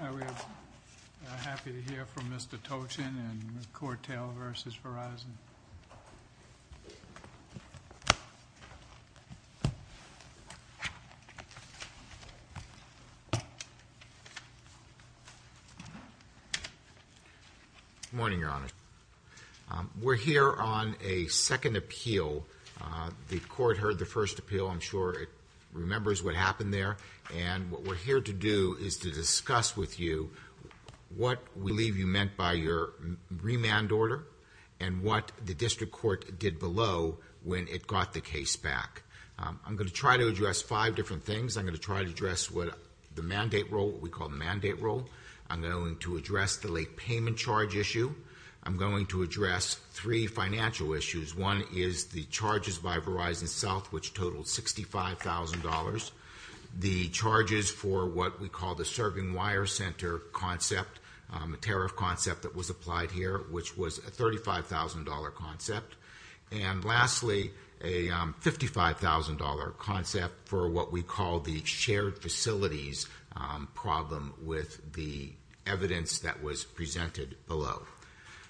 We're happy to hear from Mr. Tochen and Cortel v. Verizon. Good morning, Your Honor. We're here on a second appeal. The court heard the first appeal. I'm sure it remembers what happened there. And what we're here to do is to discuss with you what we believe you meant by your remand order and what the district court did below when it got the case back. I'm going to try to address five different things. I'm going to try to address the mandate rule, what we call the mandate rule. I'm going to address the late payment charge issue. I'm going to address three financial issues. One is the charges by Verizon South, which totaled $65,000. The charges for what we call the serving wire center concept, a tariff concept that was applied here, which was a $35,000 concept. And lastly, a $55,000 concept for what we call the shared facilities problem with the evidence that was presented below.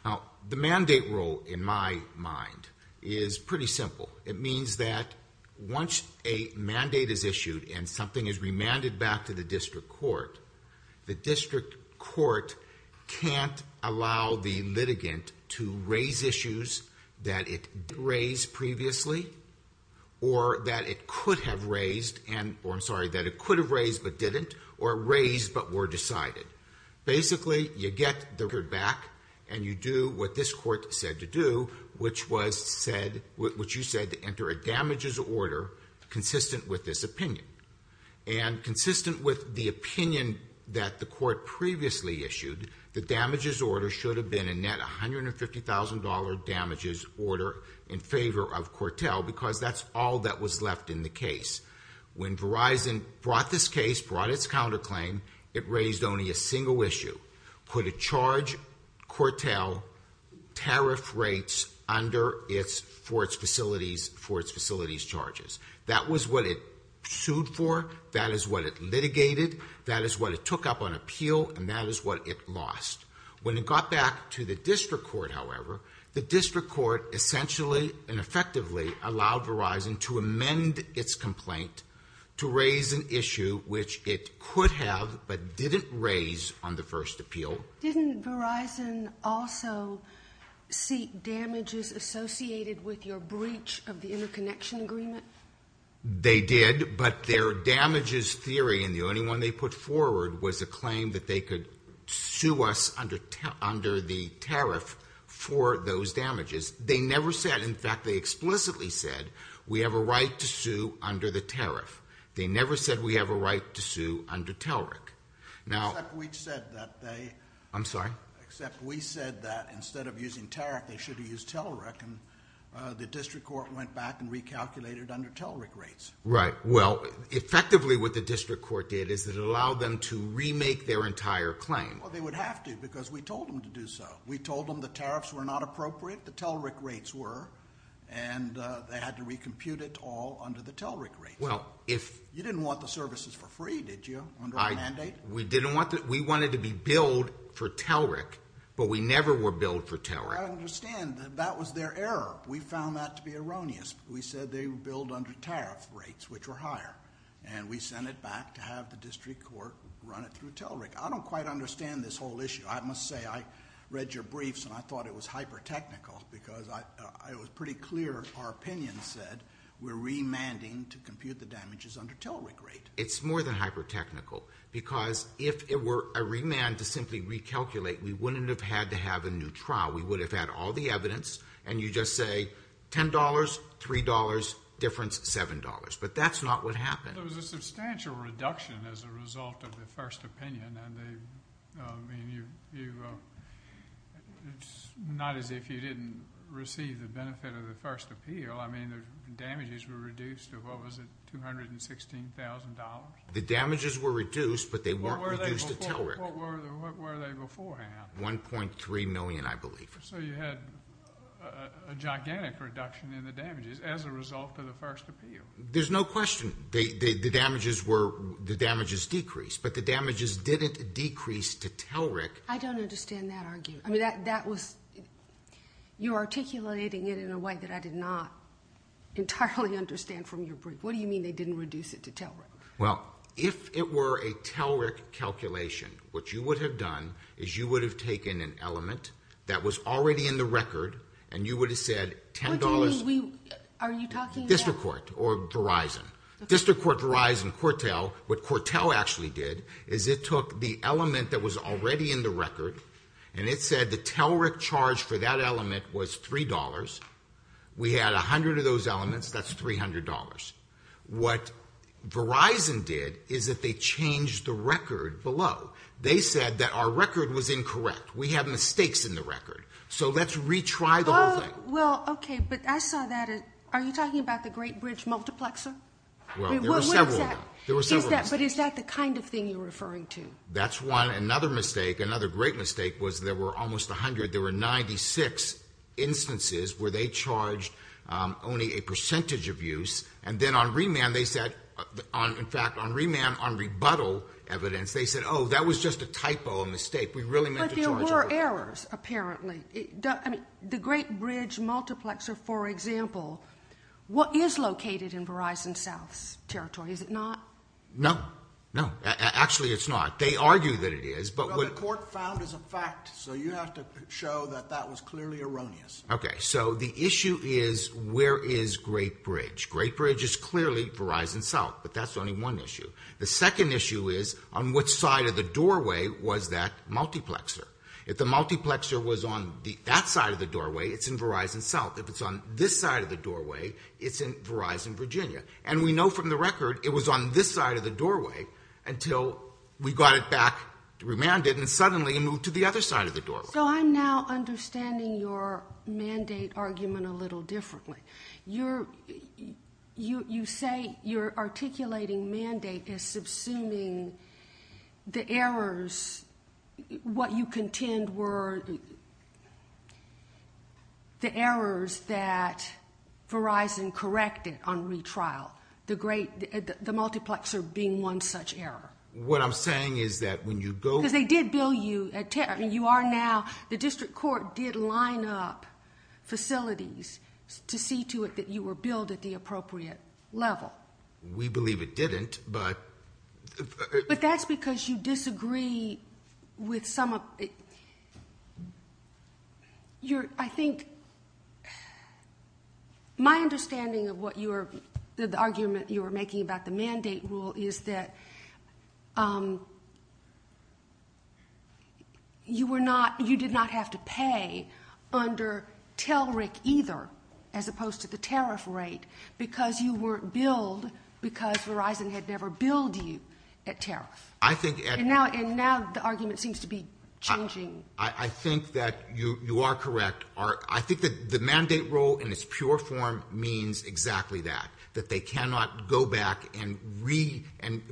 Now, the mandate rule, in my mind, is pretty simple. It means that once a mandate is issued and something is remanded back to the district court, the district court can't allow the litigant to raise issues that it didn't raise previously or that it could have raised but didn't or raised but were decided. Basically, you get the record back and you do what this court said to do, which you said to enter a damages order consistent with this opinion. And consistent with the opinion that the court previously issued, the damages order should have been a net $150,000 damages order in favor of Cortel because that's all that was left in the case. When Verizon brought this case, brought its counterclaim, it raised only a single issue. Could it charge Cortel tariff rates for its facilities charges? That was what it sued for. That is what it litigated. That is what it took up on appeal. And that is what it lost. When it got back to the district court, however, the district court essentially and effectively allowed Verizon to amend its complaint to raise an issue which it could have but didn't raise on the first appeal. Didn't Verizon also seek damages associated with your breach of the interconnection agreement? They did, but their damages theory and the only one they put forward was a claim that they could sue us under the tariff for those damages. They never said, in fact, they explicitly said we have a right to sue under the tariff. They never said we have a right to sue under TELRIC. Except we said that instead of using TELRIC they should have used TELRIC and the district court went back and recalculated under TELRIC rates. Right. Well, effectively what the district court did is it allowed them to remake their entire claim. Well, they would have to because we told them to do so. We told them the tariffs were not appropriate, the TELRIC rates were, and they had to recompute it all under the TELRIC rates. You didn't want the services for free, did you, under our mandate? We wanted to be billed for TELRIC, but we never were billed for TELRIC. I understand. That was their error. We found that to be erroneous. We said they were billed under tariff rates, which were higher, and we sent it back to have the district court run it through TELRIC. I don't quite understand this whole issue. I must say I read your briefs and I thought it was hyper-technical because it was pretty clear our opinion said we're remanding to compute the damages under TELRIC rate. It's more than hyper-technical because if it were a remand to simply recalculate, we wouldn't have had to have a new trial. We would have had all the evidence, and you just say $10, $3 difference, $7. But that's not what happened. There was a substantial reduction as a result of the first opinion, and it's not as if you didn't receive the benefit of the first appeal. I mean, the damages were reduced to, what was it, $216,000? The damages were reduced, but they weren't reduced to TELRIC. What were they beforehand? $1.3 million, I believe. So you had a gigantic reduction in the damages as a result of the first appeal. There's no question. The damages decreased, but the damages didn't decrease to TELRIC. I don't understand that argument. I mean, you're articulating it in a way that I did not entirely understand from your brief. What do you mean they didn't reduce it to TELRIC? Well, if it were a TELRIC calculation, what you would have done is you would have taken an element that was already in the record, and you would have said $10. What do you mean? Are you talking about? District Court or Verizon. District Court, Verizon, Quartel. What Quartel actually did is it took the element that was already in the record, and it said the TELRIC charge for that element was $3. We had 100 of those elements. That's $300. What Verizon did is that they changed the record below. They said that our record was incorrect. We have mistakes in the record. So let's retry the whole thing. Well, okay, but I saw that. Are you talking about the Great Bridge multiplexer? Well, there were several of them. There were several instances. But is that the kind of thing you're referring to? That's one. Another mistake, another great mistake, was there were almost 100. There were 96 instances where they charged only a percentage of use. And then on remand, they said, in fact, on remand on rebuttal evidence, they said, oh, that was just a typo, a mistake. We really meant to charge. But there were errors, apparently. The Great Bridge multiplexer, for example, what is located in Verizon South's territory? Is it not? No. No. Actually, it's not. They argue that it is. Well, the court found as a fact, so you have to show that that was clearly erroneous. Okay. So the issue is where is Great Bridge? Great Bridge is clearly Verizon South, but that's only one issue. The second issue is on what side of the doorway was that multiplexer? If the multiplexer was on that side of the doorway, it's in Verizon South. If it's on this side of the doorway, it's in Verizon Virginia. And we know from the record it was on this side of the doorway until we got it back, remanded, and suddenly it moved to the other side of the doorway. So I'm now understanding your mandate argument a little differently. You say you're articulating mandate as subsuming the errors. What you contend were the errors that Verizon corrected on retrial, the multiplexer being one such error. What I'm saying is that when you go- Because they did bill you. I mean, you are now. The district court did line up facilities to see to it that you were billed at the appropriate level. We believe it didn't, but- I think my understanding of the argument you were making about the mandate rule is that you did not have to pay under TELRIC either as opposed to the tariff rate because you weren't billed because Verizon had never billed you at tariff. And now the argument seems to be changing. I think that you are correct. I think that the mandate rule in its pure form means exactly that, that they cannot go back and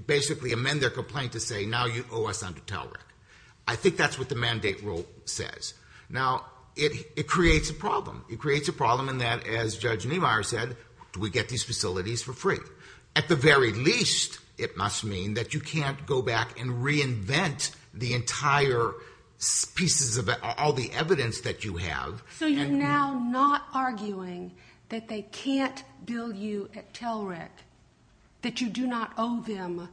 basically amend their complaint to say now you owe us under TELRIC. I think that's what the mandate rule says. Now, it creates a problem. It creates a problem in that, as Judge Niemeyer said, do we get these facilities for free? At the very least, it must mean that you can't go back and reinvent the entire pieces of all the evidence that you have. So you're now not arguing that they can't bill you at TELRIC, that you do not owe them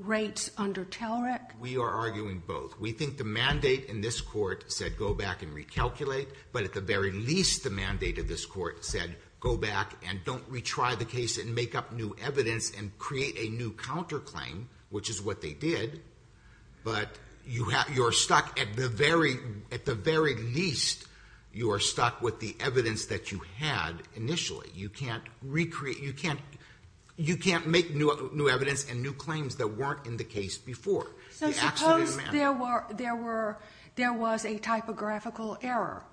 rates under TELRIC? We are arguing both. We think the mandate in this court said go back and recalculate. But at the very least, the mandate of this court said go back and don't retry the case and make up new evidence and create a new counterclaim, which is what they did. But you are stuck at the very least, you are stuck with the evidence that you had initially. You can't make new evidence and new claims that weren't in the case before. So suppose there was a typographical error.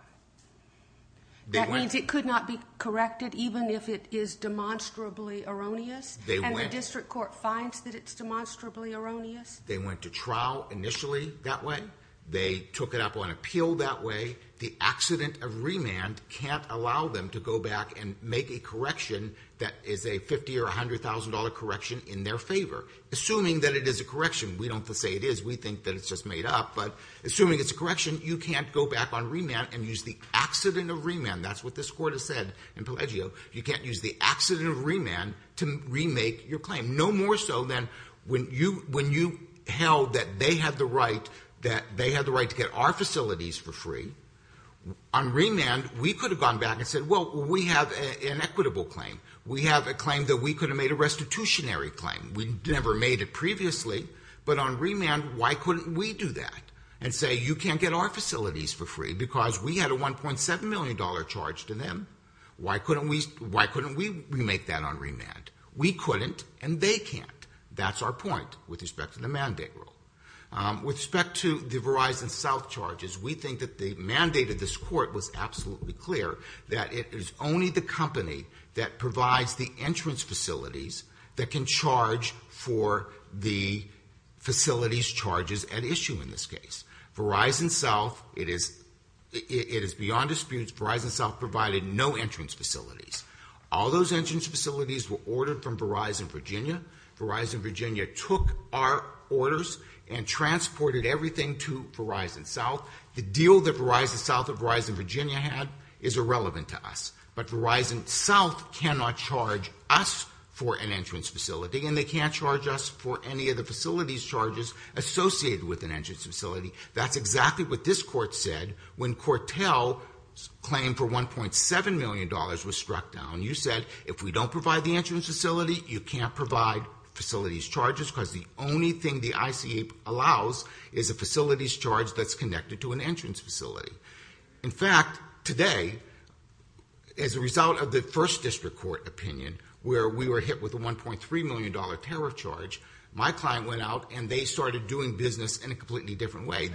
That means it could not be corrected, even if it is demonstrably erroneous? And the district court finds that it's demonstrably erroneous? They went to trial initially that way. They took it up on appeal that way. The accident of remand can't allow them to go back and make a correction that is a $50,000 or $100,000 correction in their favor. Assuming that it is a correction. We don't say it is. We think that it's just made up. But assuming it's a correction, you can't go back on remand and use the accident of remand. That's what this court has said in Pelleggio. You can't use the accident of remand to remake your claim. No more so than when you held that they had the right to get our facilities for free. On remand, we could have gone back and said, well, we have an equitable claim. We have a claim that we could have made a restitutionary claim. We never made it previously. But on remand, why couldn't we do that and say you can't get our facilities for free because we had a $1.7 million charge to them? Why couldn't we remake that on remand? We couldn't and they can't. That's our point with respect to the mandate rule. With respect to the Verizon South charges, we think that the mandate of this court was absolutely clear that it is only the company that provides the entrance facilities that can charge for the facilities charges at issue in this case. Verizon South, it is beyond dispute Verizon South provided no entrance facilities. All those entrance facilities were ordered from Verizon Virginia. Verizon Virginia took our orders and transported everything to Verizon South. The deal that Verizon South or Verizon Virginia had is irrelevant to us. But Verizon South cannot charge us for an entrance facility and they can't charge us for any of the facilities charges associated with an entrance facility. That's exactly what this court said when Cortel's claim for $1.7 million was struck down. You said if we don't provide the entrance facility, you can't provide facilities charges because the only thing the ICA allows is a facilities charge that's connected to an entrance facility. In fact, today, as a result of the first district court opinion where we were hit with a $1.3 million tariff charge, my client went out and they started doing business in a completely different way.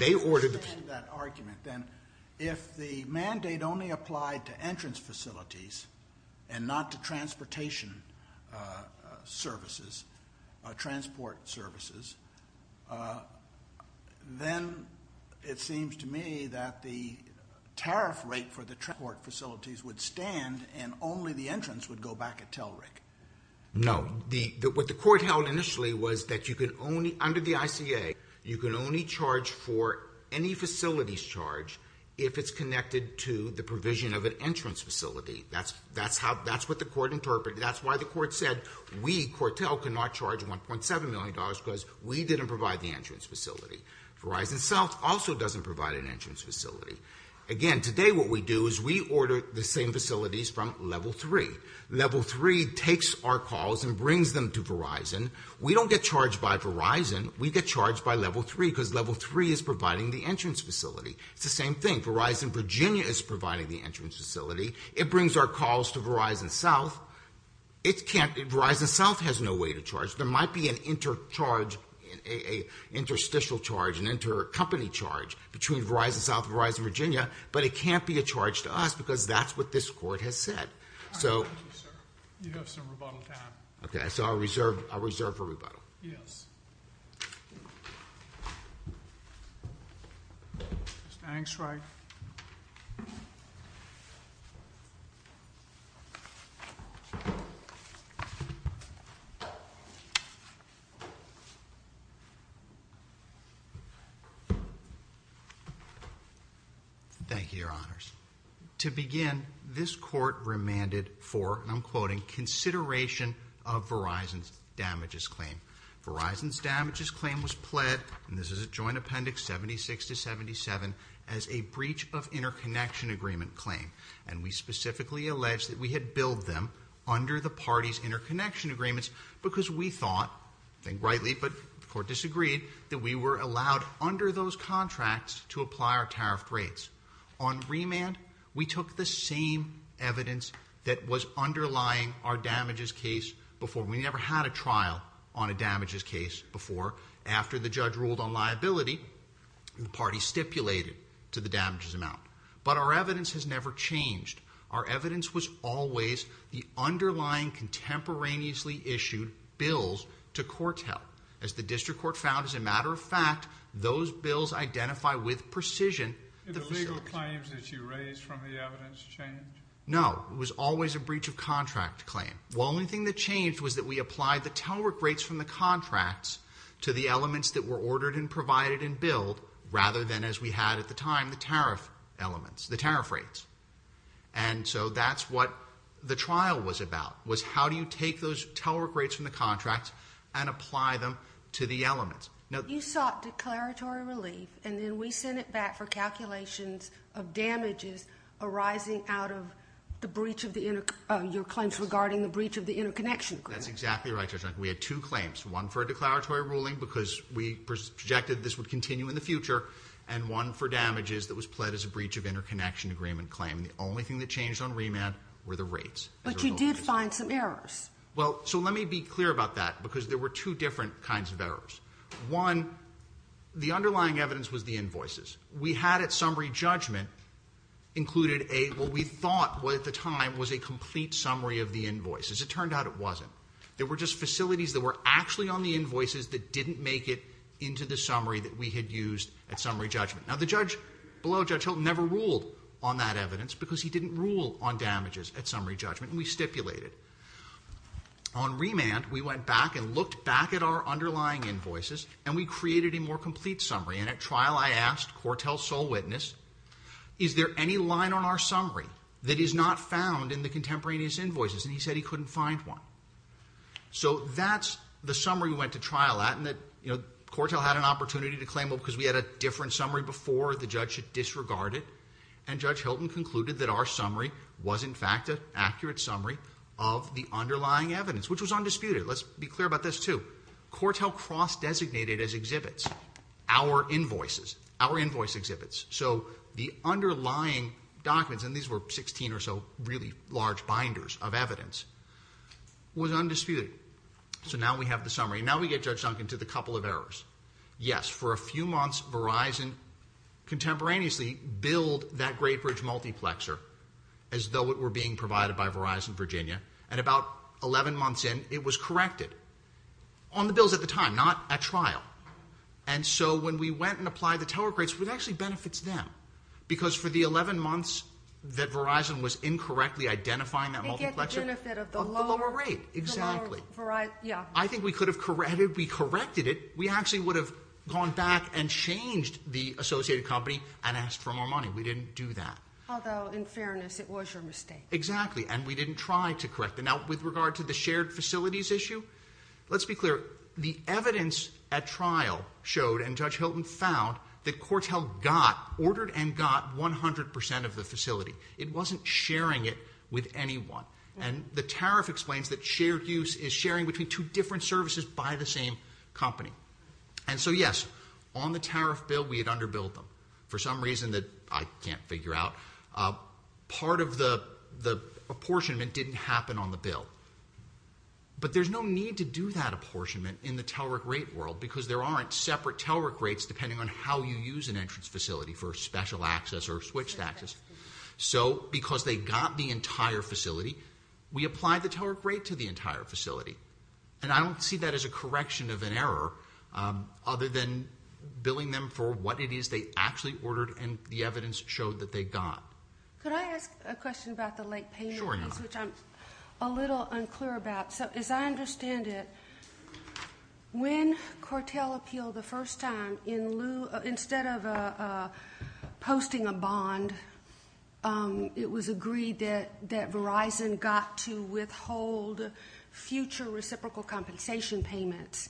If the mandate only applied to entrance facilities and not to transportation services, transport services, then it seems to me that the tariff rate for the transport facilities would stand and only the entrance would go back at Telric. No, what the court held initially was that under the ICA, you can only charge for any facilities charge if it's connected to the provision of an entrance facility. That's what the court interpreted. That's why the court said we, Cortel, cannot charge $1.7 million because we didn't provide the entrance facility. Verizon South also doesn't provide an entrance facility. Again, today what we do is we order the same facilities from Level 3. Level 3 takes our calls and brings them to Verizon. We don't get charged by Verizon. We get charged by Level 3 because Level 3 is providing the entrance facility. It's the same thing. Verizon Virginia is providing the entrance facility. It brings our calls to Verizon South. Verizon South has no way to charge. There might be an intercharge, an interstitial charge, an intercompany charge between Verizon South and Verizon Virginia, but it can't be a charge to us because that's what this court has said. Thank you, sir. You have some rebuttal time. Okay, so I'll reserve for rebuttal. Yes. Mr. Angstreich. Thank you, Your Honors. To begin, this court remanded for, and I'm quoting, consideration of Verizon's damages claim. Verizon's damages claim was pled, and this is a joint appendix 76 to 77, as a breach of interconnection agreement claim, and we specifically alleged that we had billed them under the party's interconnection agreements because we thought, I think rightly, but the court disagreed, that we were allowed under those contracts to apply our tariff rates. On remand, we took the same evidence that was underlying our damages case before. We never had a trial on a damages case before. After the judge ruled on liability, the party stipulated to the damages amount, but our evidence has never changed. Our evidence was always the underlying contemporaneously issued bills to court's help. As the district court found, as a matter of fact, those bills identify with precision the facility. The legal claims that you raised from the evidence changed? No, it was always a breach of contract claim. The only thing that changed was that we applied the telework rates from the contracts to the elements that were ordered and provided and billed, rather than, as we had at the time, the tariff elements, the tariff rates. And so that's what the trial was about, was how do you take those telework rates from the contracts and apply them to the elements. You sought declaratory relief, and then we sent it back for calculations of damages arising out of your claims regarding the breach of the interconnection agreement. That's exactly right, Judge. We had two claims, one for a declaratory ruling, because we projected this would continue in the future, and one for damages that was pled as a breach of interconnection agreement claim. The only thing that changed on remand were the rates. But you did find some errors. Well, so let me be clear about that, because there were two different kinds of errors. One, the underlying evidence was the invoices. We had at summary judgment included a, what we thought at the time was a complete summary of the invoices. It turned out it wasn't. There were just facilities that were actually on the invoices that didn't make it into the summary that we had used at summary judgment. Now, the judge below Judge Hilton never ruled on that evidence because he didn't rule on damages at summary judgment, and we stipulated. On remand, we went back and looked back at our underlying invoices, and we created a more complete summary. And at trial I asked Cortell's sole witness, is there any line on our summary that is not found in the contemporaneous invoices? And he said he couldn't find one. So that's the summary we went to trial at, and Cortell had an opportunity to claim it because we had a different summary before the judge had disregarded it, and Judge Hilton concluded that our summary was in fact an accurate summary of the underlying evidence, which was undisputed. Let's be clear about this too. Cortell cross-designated as exhibits our invoices, our invoice exhibits. So the underlying documents, and these were 16 or so really large binders of evidence, was undisputed. So now we have the summary. Now we get Judge Duncan to the couple of errors. Yes, for a few months Verizon contemporaneously billed that Great Bridge multiplexer as though it were being provided by Verizon Virginia, and about 11 months in it was corrected on the bills at the time, not at trial. And so when we went and applied the tower grades, it actually benefits them because for the 11 months that Verizon was incorrectly identifying that multiplexer... They get the benefit of the lower... Of the lower rate, exactly. The lower variety, yeah. I think we could have corrected it. If we corrected it, we actually would have gone back and changed the associated company and asked for more money. We didn't do that. Although, in fairness, it was your mistake. Exactly, and we didn't try to correct it. Now, with regard to the shared facilities issue, let's be clear. The evidence at trial showed, and Judge Hilton found, that Cortell got, ordered and got, 100% of the facility. It wasn't sharing it with anyone. And the tariff explains that shared use is sharing between two different services by the same company. And so, yes, on the tariff bill, we had underbilled them. For some reason that I can't figure out, part of the apportionment didn't happen on the bill. But there's no need to do that apportionment in the TELRIC rate world because there aren't separate TELRIC rates depending on how you use an entrance facility for special access or switched access. So, because they got the entire facility, we applied the TELRIC rate to the entire facility. And I don't see that as a correction of an error other than billing them for what it is they actually ordered and the evidence showed that they got. Could I ask a question about the late payment? Sure. Which I'm a little unclear about. So, as I understand it, when Cortell appealed the first time, instead of posting a bond, it was agreed that Verizon got to withhold future reciprocal compensation payments,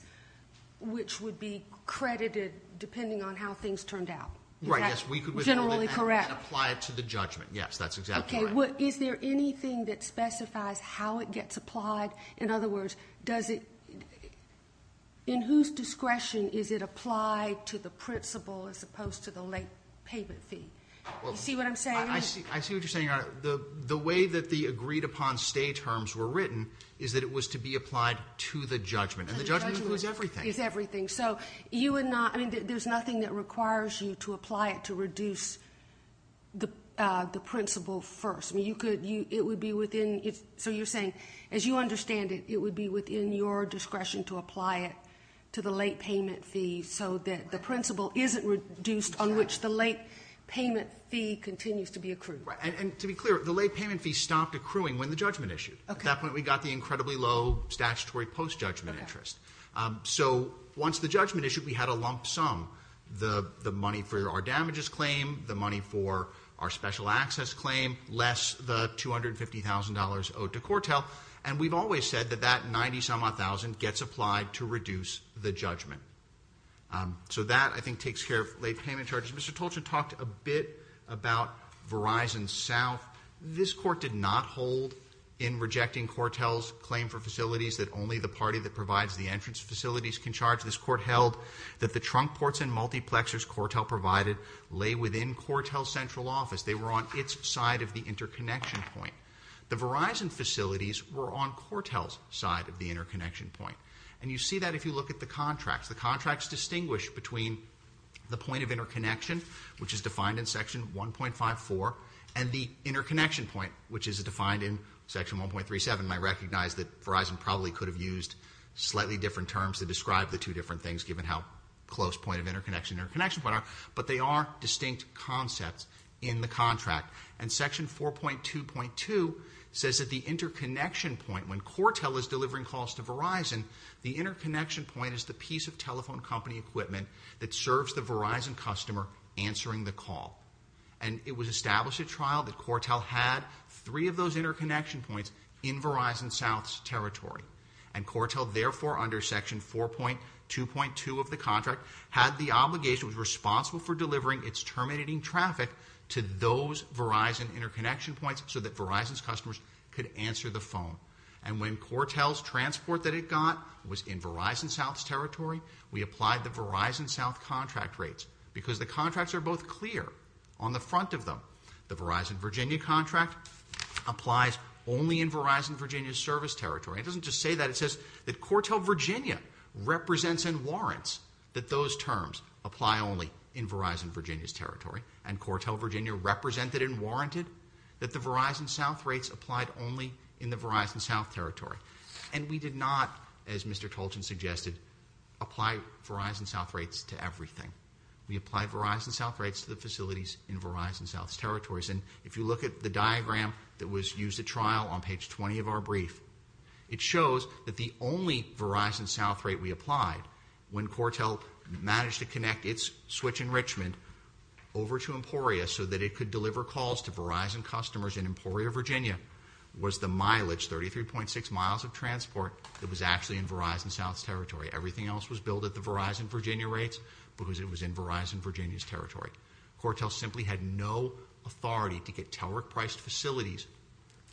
which would be credited depending on how things turned out. Right, yes, we could withhold it and apply it to the judgment. Yes, that's exactly right. Okay, is there anything that specifies how it gets applied? In other words, in whose discretion is it applied to the principal as opposed to the late payment fee? You see what I'm saying? I see what you're saying, Your Honor. The way that the agreed-upon stay terms were written is that it was to be applied to the judgment, and the judgment was everything. It's everything. So, you would not, I mean, there's nothing that requires you to apply it to reduce the principal first. I mean, you could, it would be within, so you're saying, as you understand it, it would be within your discretion to apply it to the late payment fee so that the principal isn't reduced on which the late payment fee continues to be accrued. Right, and to be clear, the late payment fee stopped accruing when the judgment issued. At that point, we got the incredibly low statutory post-judgment interest. So, once the judgment issued, we had a lump sum, the money for our damages claim, the money for our special access claim, less the $250,000 owed to Cortel, and we've always said that that 90-some-odd thousand gets applied to reduce the judgment. So, that, I think, takes care of late payment charges. Mr. Tolchin talked a bit about Verizon South. This court did not hold in rejecting Cortel's claim for facilities that only the party that provides the entrance facilities can charge. This court held that the trunk ports and multiplexes Cortel provided lay within Cortel's central office. They were on its side of the interconnection point. The Verizon facilities were on Cortel's side of the interconnection point, and you see that if you look at the contracts. The contracts distinguish between the point of interconnection, which is defined in section 1.54, and the interconnection point, which is defined in section 1.37. I recognize that Verizon probably could have used slightly different terms to describe the two different things, given how close point of interconnection and interconnection point are, but they are distinct concepts in the contract, and section 4.2.2 says that the interconnection point, when Cortel is delivering calls to Verizon, the interconnection point is the piece of telephone company equipment that serves the Verizon customer answering the call, and it was established at trial that Cortel had three of those interconnection points in Verizon South's territory, and Cortel, therefore, under section 4.2.2 of the contract, had the obligation, was responsible for delivering its terminating traffic to those Verizon interconnection points so that Verizon's customers could answer the phone, and when Cortel's transport that it got was in Verizon South's territory, we applied the Verizon South contract rates because the contracts are both clear on the front of them. The Verizon Virginia contract applies only in Verizon Virginia's service territory. It doesn't just say that. It says that Cortel Virginia represents and warrants that those terms apply only in Verizon Virginia's territory, and Cortel Virginia represented and warranted that the Verizon South rates applied only in the Verizon South territory, and we did not, as Mr. Tolchin suggested, apply Verizon South rates to everything. We applied Verizon South rates to the facilities in Verizon South's territories, and if you look at the diagram that was used at trial on page 20 of our brief, it shows that the only Verizon South rate we applied when Cortel managed to connect its switch enrichment over to Emporia so that it could deliver calls to Verizon customers in Emporia, Virginia was the mileage, 33.6 miles of transport that was actually in Verizon South's territory. Everything else was billed at the Verizon Virginia rates because it was in Verizon Virginia's territory. Cortel simply had no authority to get Telerik-priced facilities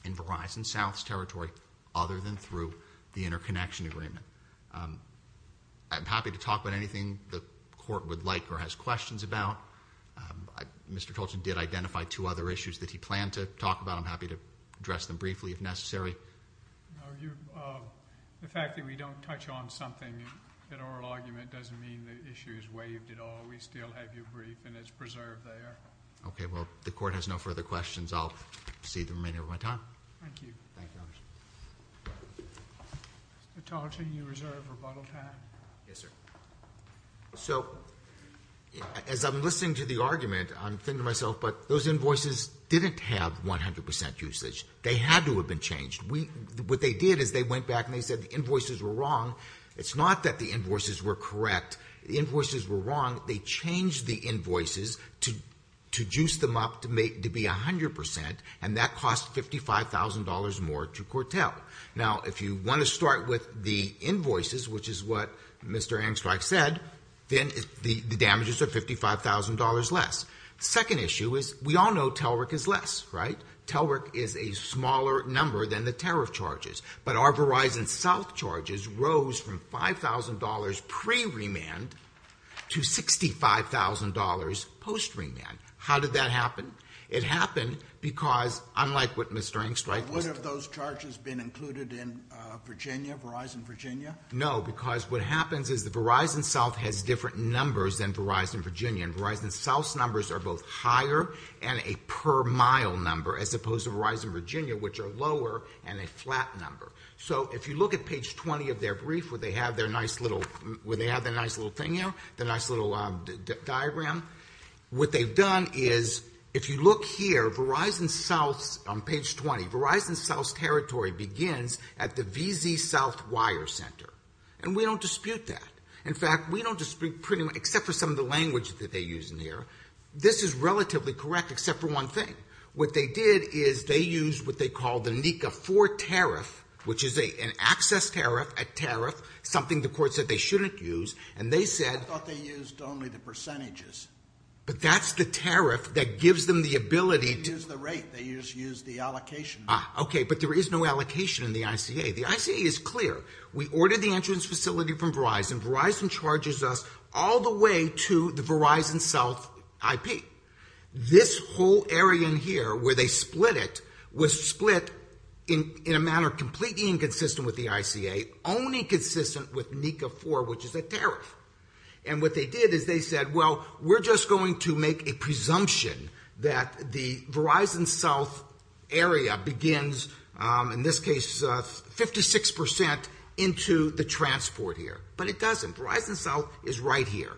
in Verizon South's territory other than through the interconnection agreement. I'm happy to talk about anything the court would like or has questions about. Mr. Tolchin did identify two other issues that he planned to talk about. I'm happy to address them briefly if necessary. The fact that we don't touch on something in oral argument doesn't mean the issue is waived at all. We still have your brief, and it's preserved there. Okay, well, the court has no further questions. I'll proceed to the remainder of my time. Thank you. Mr. Tolchin, you reserve rebuttal time. Yes, sir. So as I'm listening to the argument, I'm thinking to myself, but those invoices didn't have 100% usage. They had to have been changed. What they did is they went back, and they said the invoices were wrong. It's not that the invoices were correct. The invoices were wrong. They changed the invoices to juice them up to be 100%, and that cost $55,000 more to Cortel. Now, if you want to start with the invoices, which is what Mr. Angstreich said, then the damages are $55,000 less. The second issue is we all know TELRIC is less, right? TELRIC is a smaller number than the tariff charges, but our Verizon South charges rose from $5,000 pre-remand to $65,000 post-remand. How did that happen? It happened because, unlike what Mr. Angstreich listed... But would have those charges been included in Virginia, Verizon Virginia? No, because what happens is that Verizon South has different numbers than Verizon Virginia, and Verizon South's numbers are both higher and a per-mile number as opposed to Verizon Virginia, which are lower and a flat number. So if you look at page 20 of their brief, where they have their nice little thing there, the nice little diagram, what they've done is, if you look here, Verizon South's... On page 20, Verizon South's territory begins at the VZ South wire center, and we don't dispute that. In fact, we don't dispute pretty much... This is relatively correct, except for one thing. What they did is they used what they call the NECA 4 tariff, which is an access tariff, a tariff, something the court said they shouldn't use, and they said... I thought they used only the percentages. But that's the tariff that gives them the ability to... They didn't use the rate. They just used the allocation. Ah, okay, but there is no allocation in the ICA. The ICA is clear. We ordered the entrance facility from Verizon. Verizon charges us all the way to the Verizon South IP. This whole area in here, where they split it, was split in a manner completely inconsistent with the ICA, only consistent with NECA 4, which is a tariff. And what they did is they said, well, we're just going to make a presumption that the Verizon South area begins, in this case, 56% into the transport here. But it doesn't. Verizon South is right here.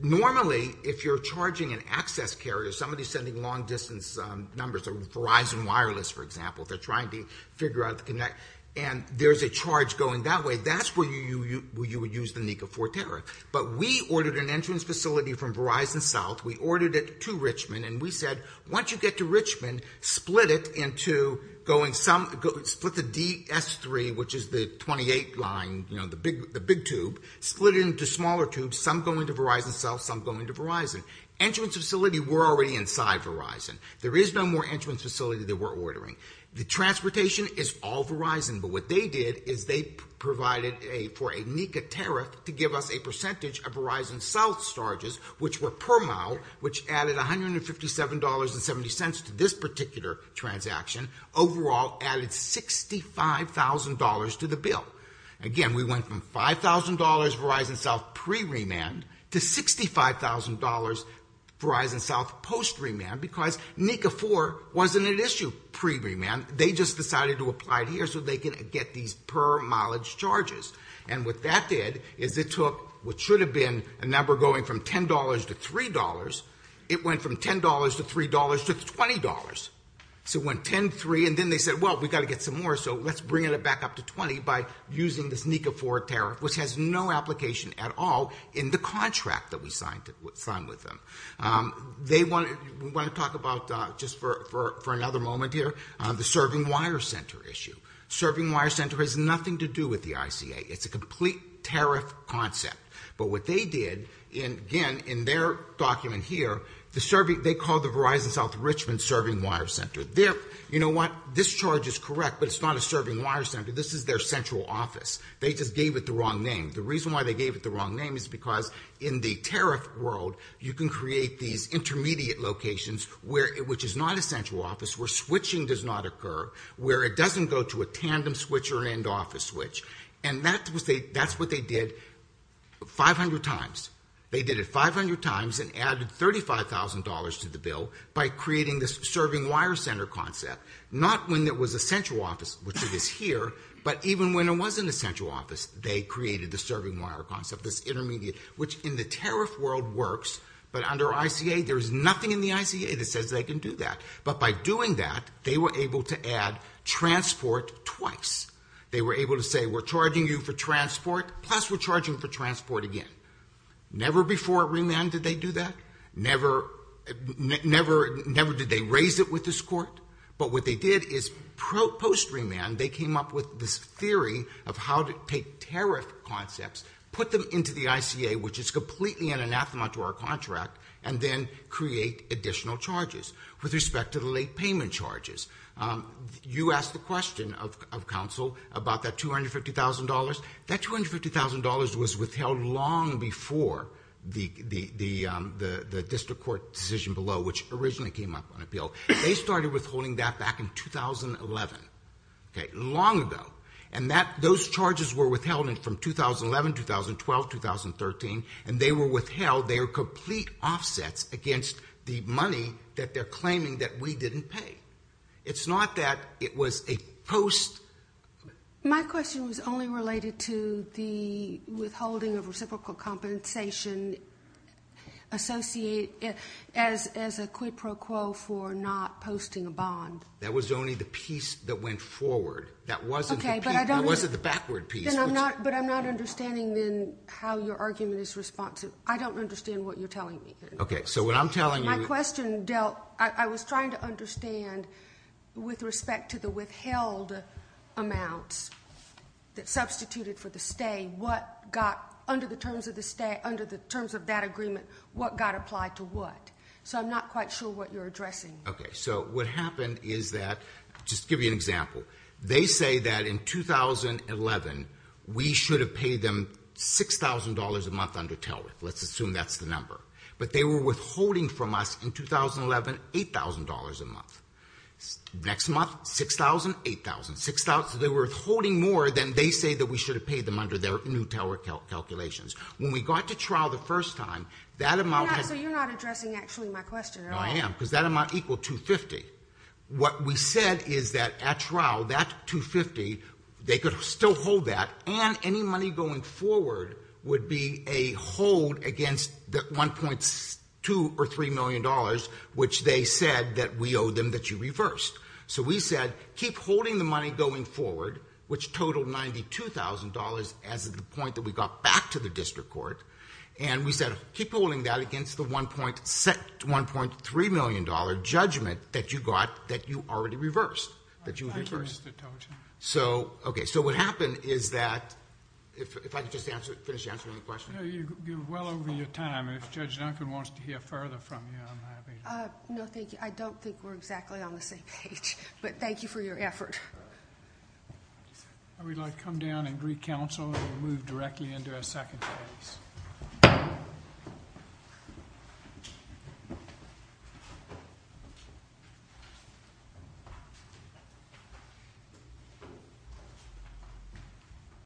Normally, if you're charging an access carrier, somebody's sending long-distance numbers, Verizon Wireless, for example, they're trying to figure out the connect, and there's a charge going that way, that's where you would use the NECA 4 tariff. But we ordered an entrance facility from Verizon South. We ordered it to Richmond, and we said, once you get to Richmond, split it into going some... Split the DS3, which is the 28 line, the big tube, split it into smaller tubes, some going to Verizon South, some going to Verizon. Entrance facility, we're already inside Verizon. There is no more entrance facility that we're ordering. The transportation is all Verizon, but what they did is they provided for a NECA tariff to give us a percentage of Verizon South's charges, which were per mile, which added $157.70 to this particular transaction. Overall, added $65,000 to the bill. Again, we went from $5,000 Verizon South pre-remand to $65,000 Verizon South post-remand because NECA 4 wasn't an issue pre-remand. They just decided to apply it here so they could get these per-mileage charges. And what that did is it took what should have been a number going from $10 to $3. It went from $10 to $3 to $20. So it went $10, $3, and then they said, well, we've got to get some more, so let's bring it back up to $20 by using this NECA 4 tariff, which has no application at all in the contract that we signed with them. We want to talk about, just for another moment here, the serving wire center issue. Serving wire center has nothing to do with the ICA. It's a complete tariff concept. But what they did, again, in their document here, they called the Verizon South Richmond serving wire center. You know what? This charge is correct, but it's not a serving wire center. This is their central office. They just gave it the wrong name. The reason why they gave it the wrong name is because in the tariff world, you can create these intermediate locations, which is not a central office, where switching does not occur, where it doesn't go to a tandem switch or an end-office switch. And that's what they did 500 times. They did it 500 times and added $35,000 to the bill by creating this serving wire center concept, not when there was a central office, which it is here, but even when there wasn't a central office, they created the serving wire concept, this intermediate, which in the tariff world works, but under ICA, there is nothing in the ICA that says they can do that. But by doing that, they were able to add transport twice. They were able to say, we're charging you for transport, plus we're charging for transport again. Never before at Remand did they do that. Never did they raise it with this court. But what they did is post-Remand, they came up with this theory of how to take tariff concepts, put them into the ICA, which is completely an anathema to our contract, and then create additional charges with respect to the late payment charges. You asked the question of counsel about that $250,000. That $250,000 was withheld long before the district court decision below, which originally came up on appeal. They started withholding that back in 2011. Long ago. And those charges were withheld from 2011, 2012, 2013, and they were withheld. They are complete offsets against the money that they're claiming that we didn't pay. It's not that it was a post... My question was only related to the withholding of reciprocal compensation associated as a quid pro quo for not posting a bond. That was only the piece that went forward. That wasn't the backward piece. But I'm not understanding, then, how your argument is responsive. I don't understand what you're telling me. Okay, so what I'm telling you... My question dealt... I was trying to understand, with respect to the withheld amounts that substituted for the stay, what got, under the terms of that agreement, what got applied to what. So I'm not quite sure what you're addressing. Okay, so what happened is that... Just to give you an example. They say that in 2011, we should have paid them $6,000 a month under TELWIH. Let's assume that's the number. But they were withholding from us, in 2011, $8,000 a month. Next month, $6,000, $8,000, $6,000. So they were withholding more than they say that we should have paid them under their new TELWIH calculations. When we got to trial the first time, that amount... So you're not addressing, actually, my question, are you? No, I am, because that amount equaled $250,000. What we said is that, at trial, that $250,000, they could still hold that, and any money going forward would be a hold against the $1.2 or $3 million which they said that we owed them that you reversed. So we said, keep holding the money going forward, which totaled $92,000, as of the point that we got back to the district court. And we said, keep holding that against the $1.3 million judgment that you got that you already reversed. Thank you, Mr. Tolchin. So what happened is that... If I could just finish answering the question. You're well over your time. If Judge Duncan wants to hear further from you, I'm happy to. No, thank you. I don't think we're exactly on the same page. But thank you for your effort. I would like to come down and greet counsel, and we'll move directly into our second case.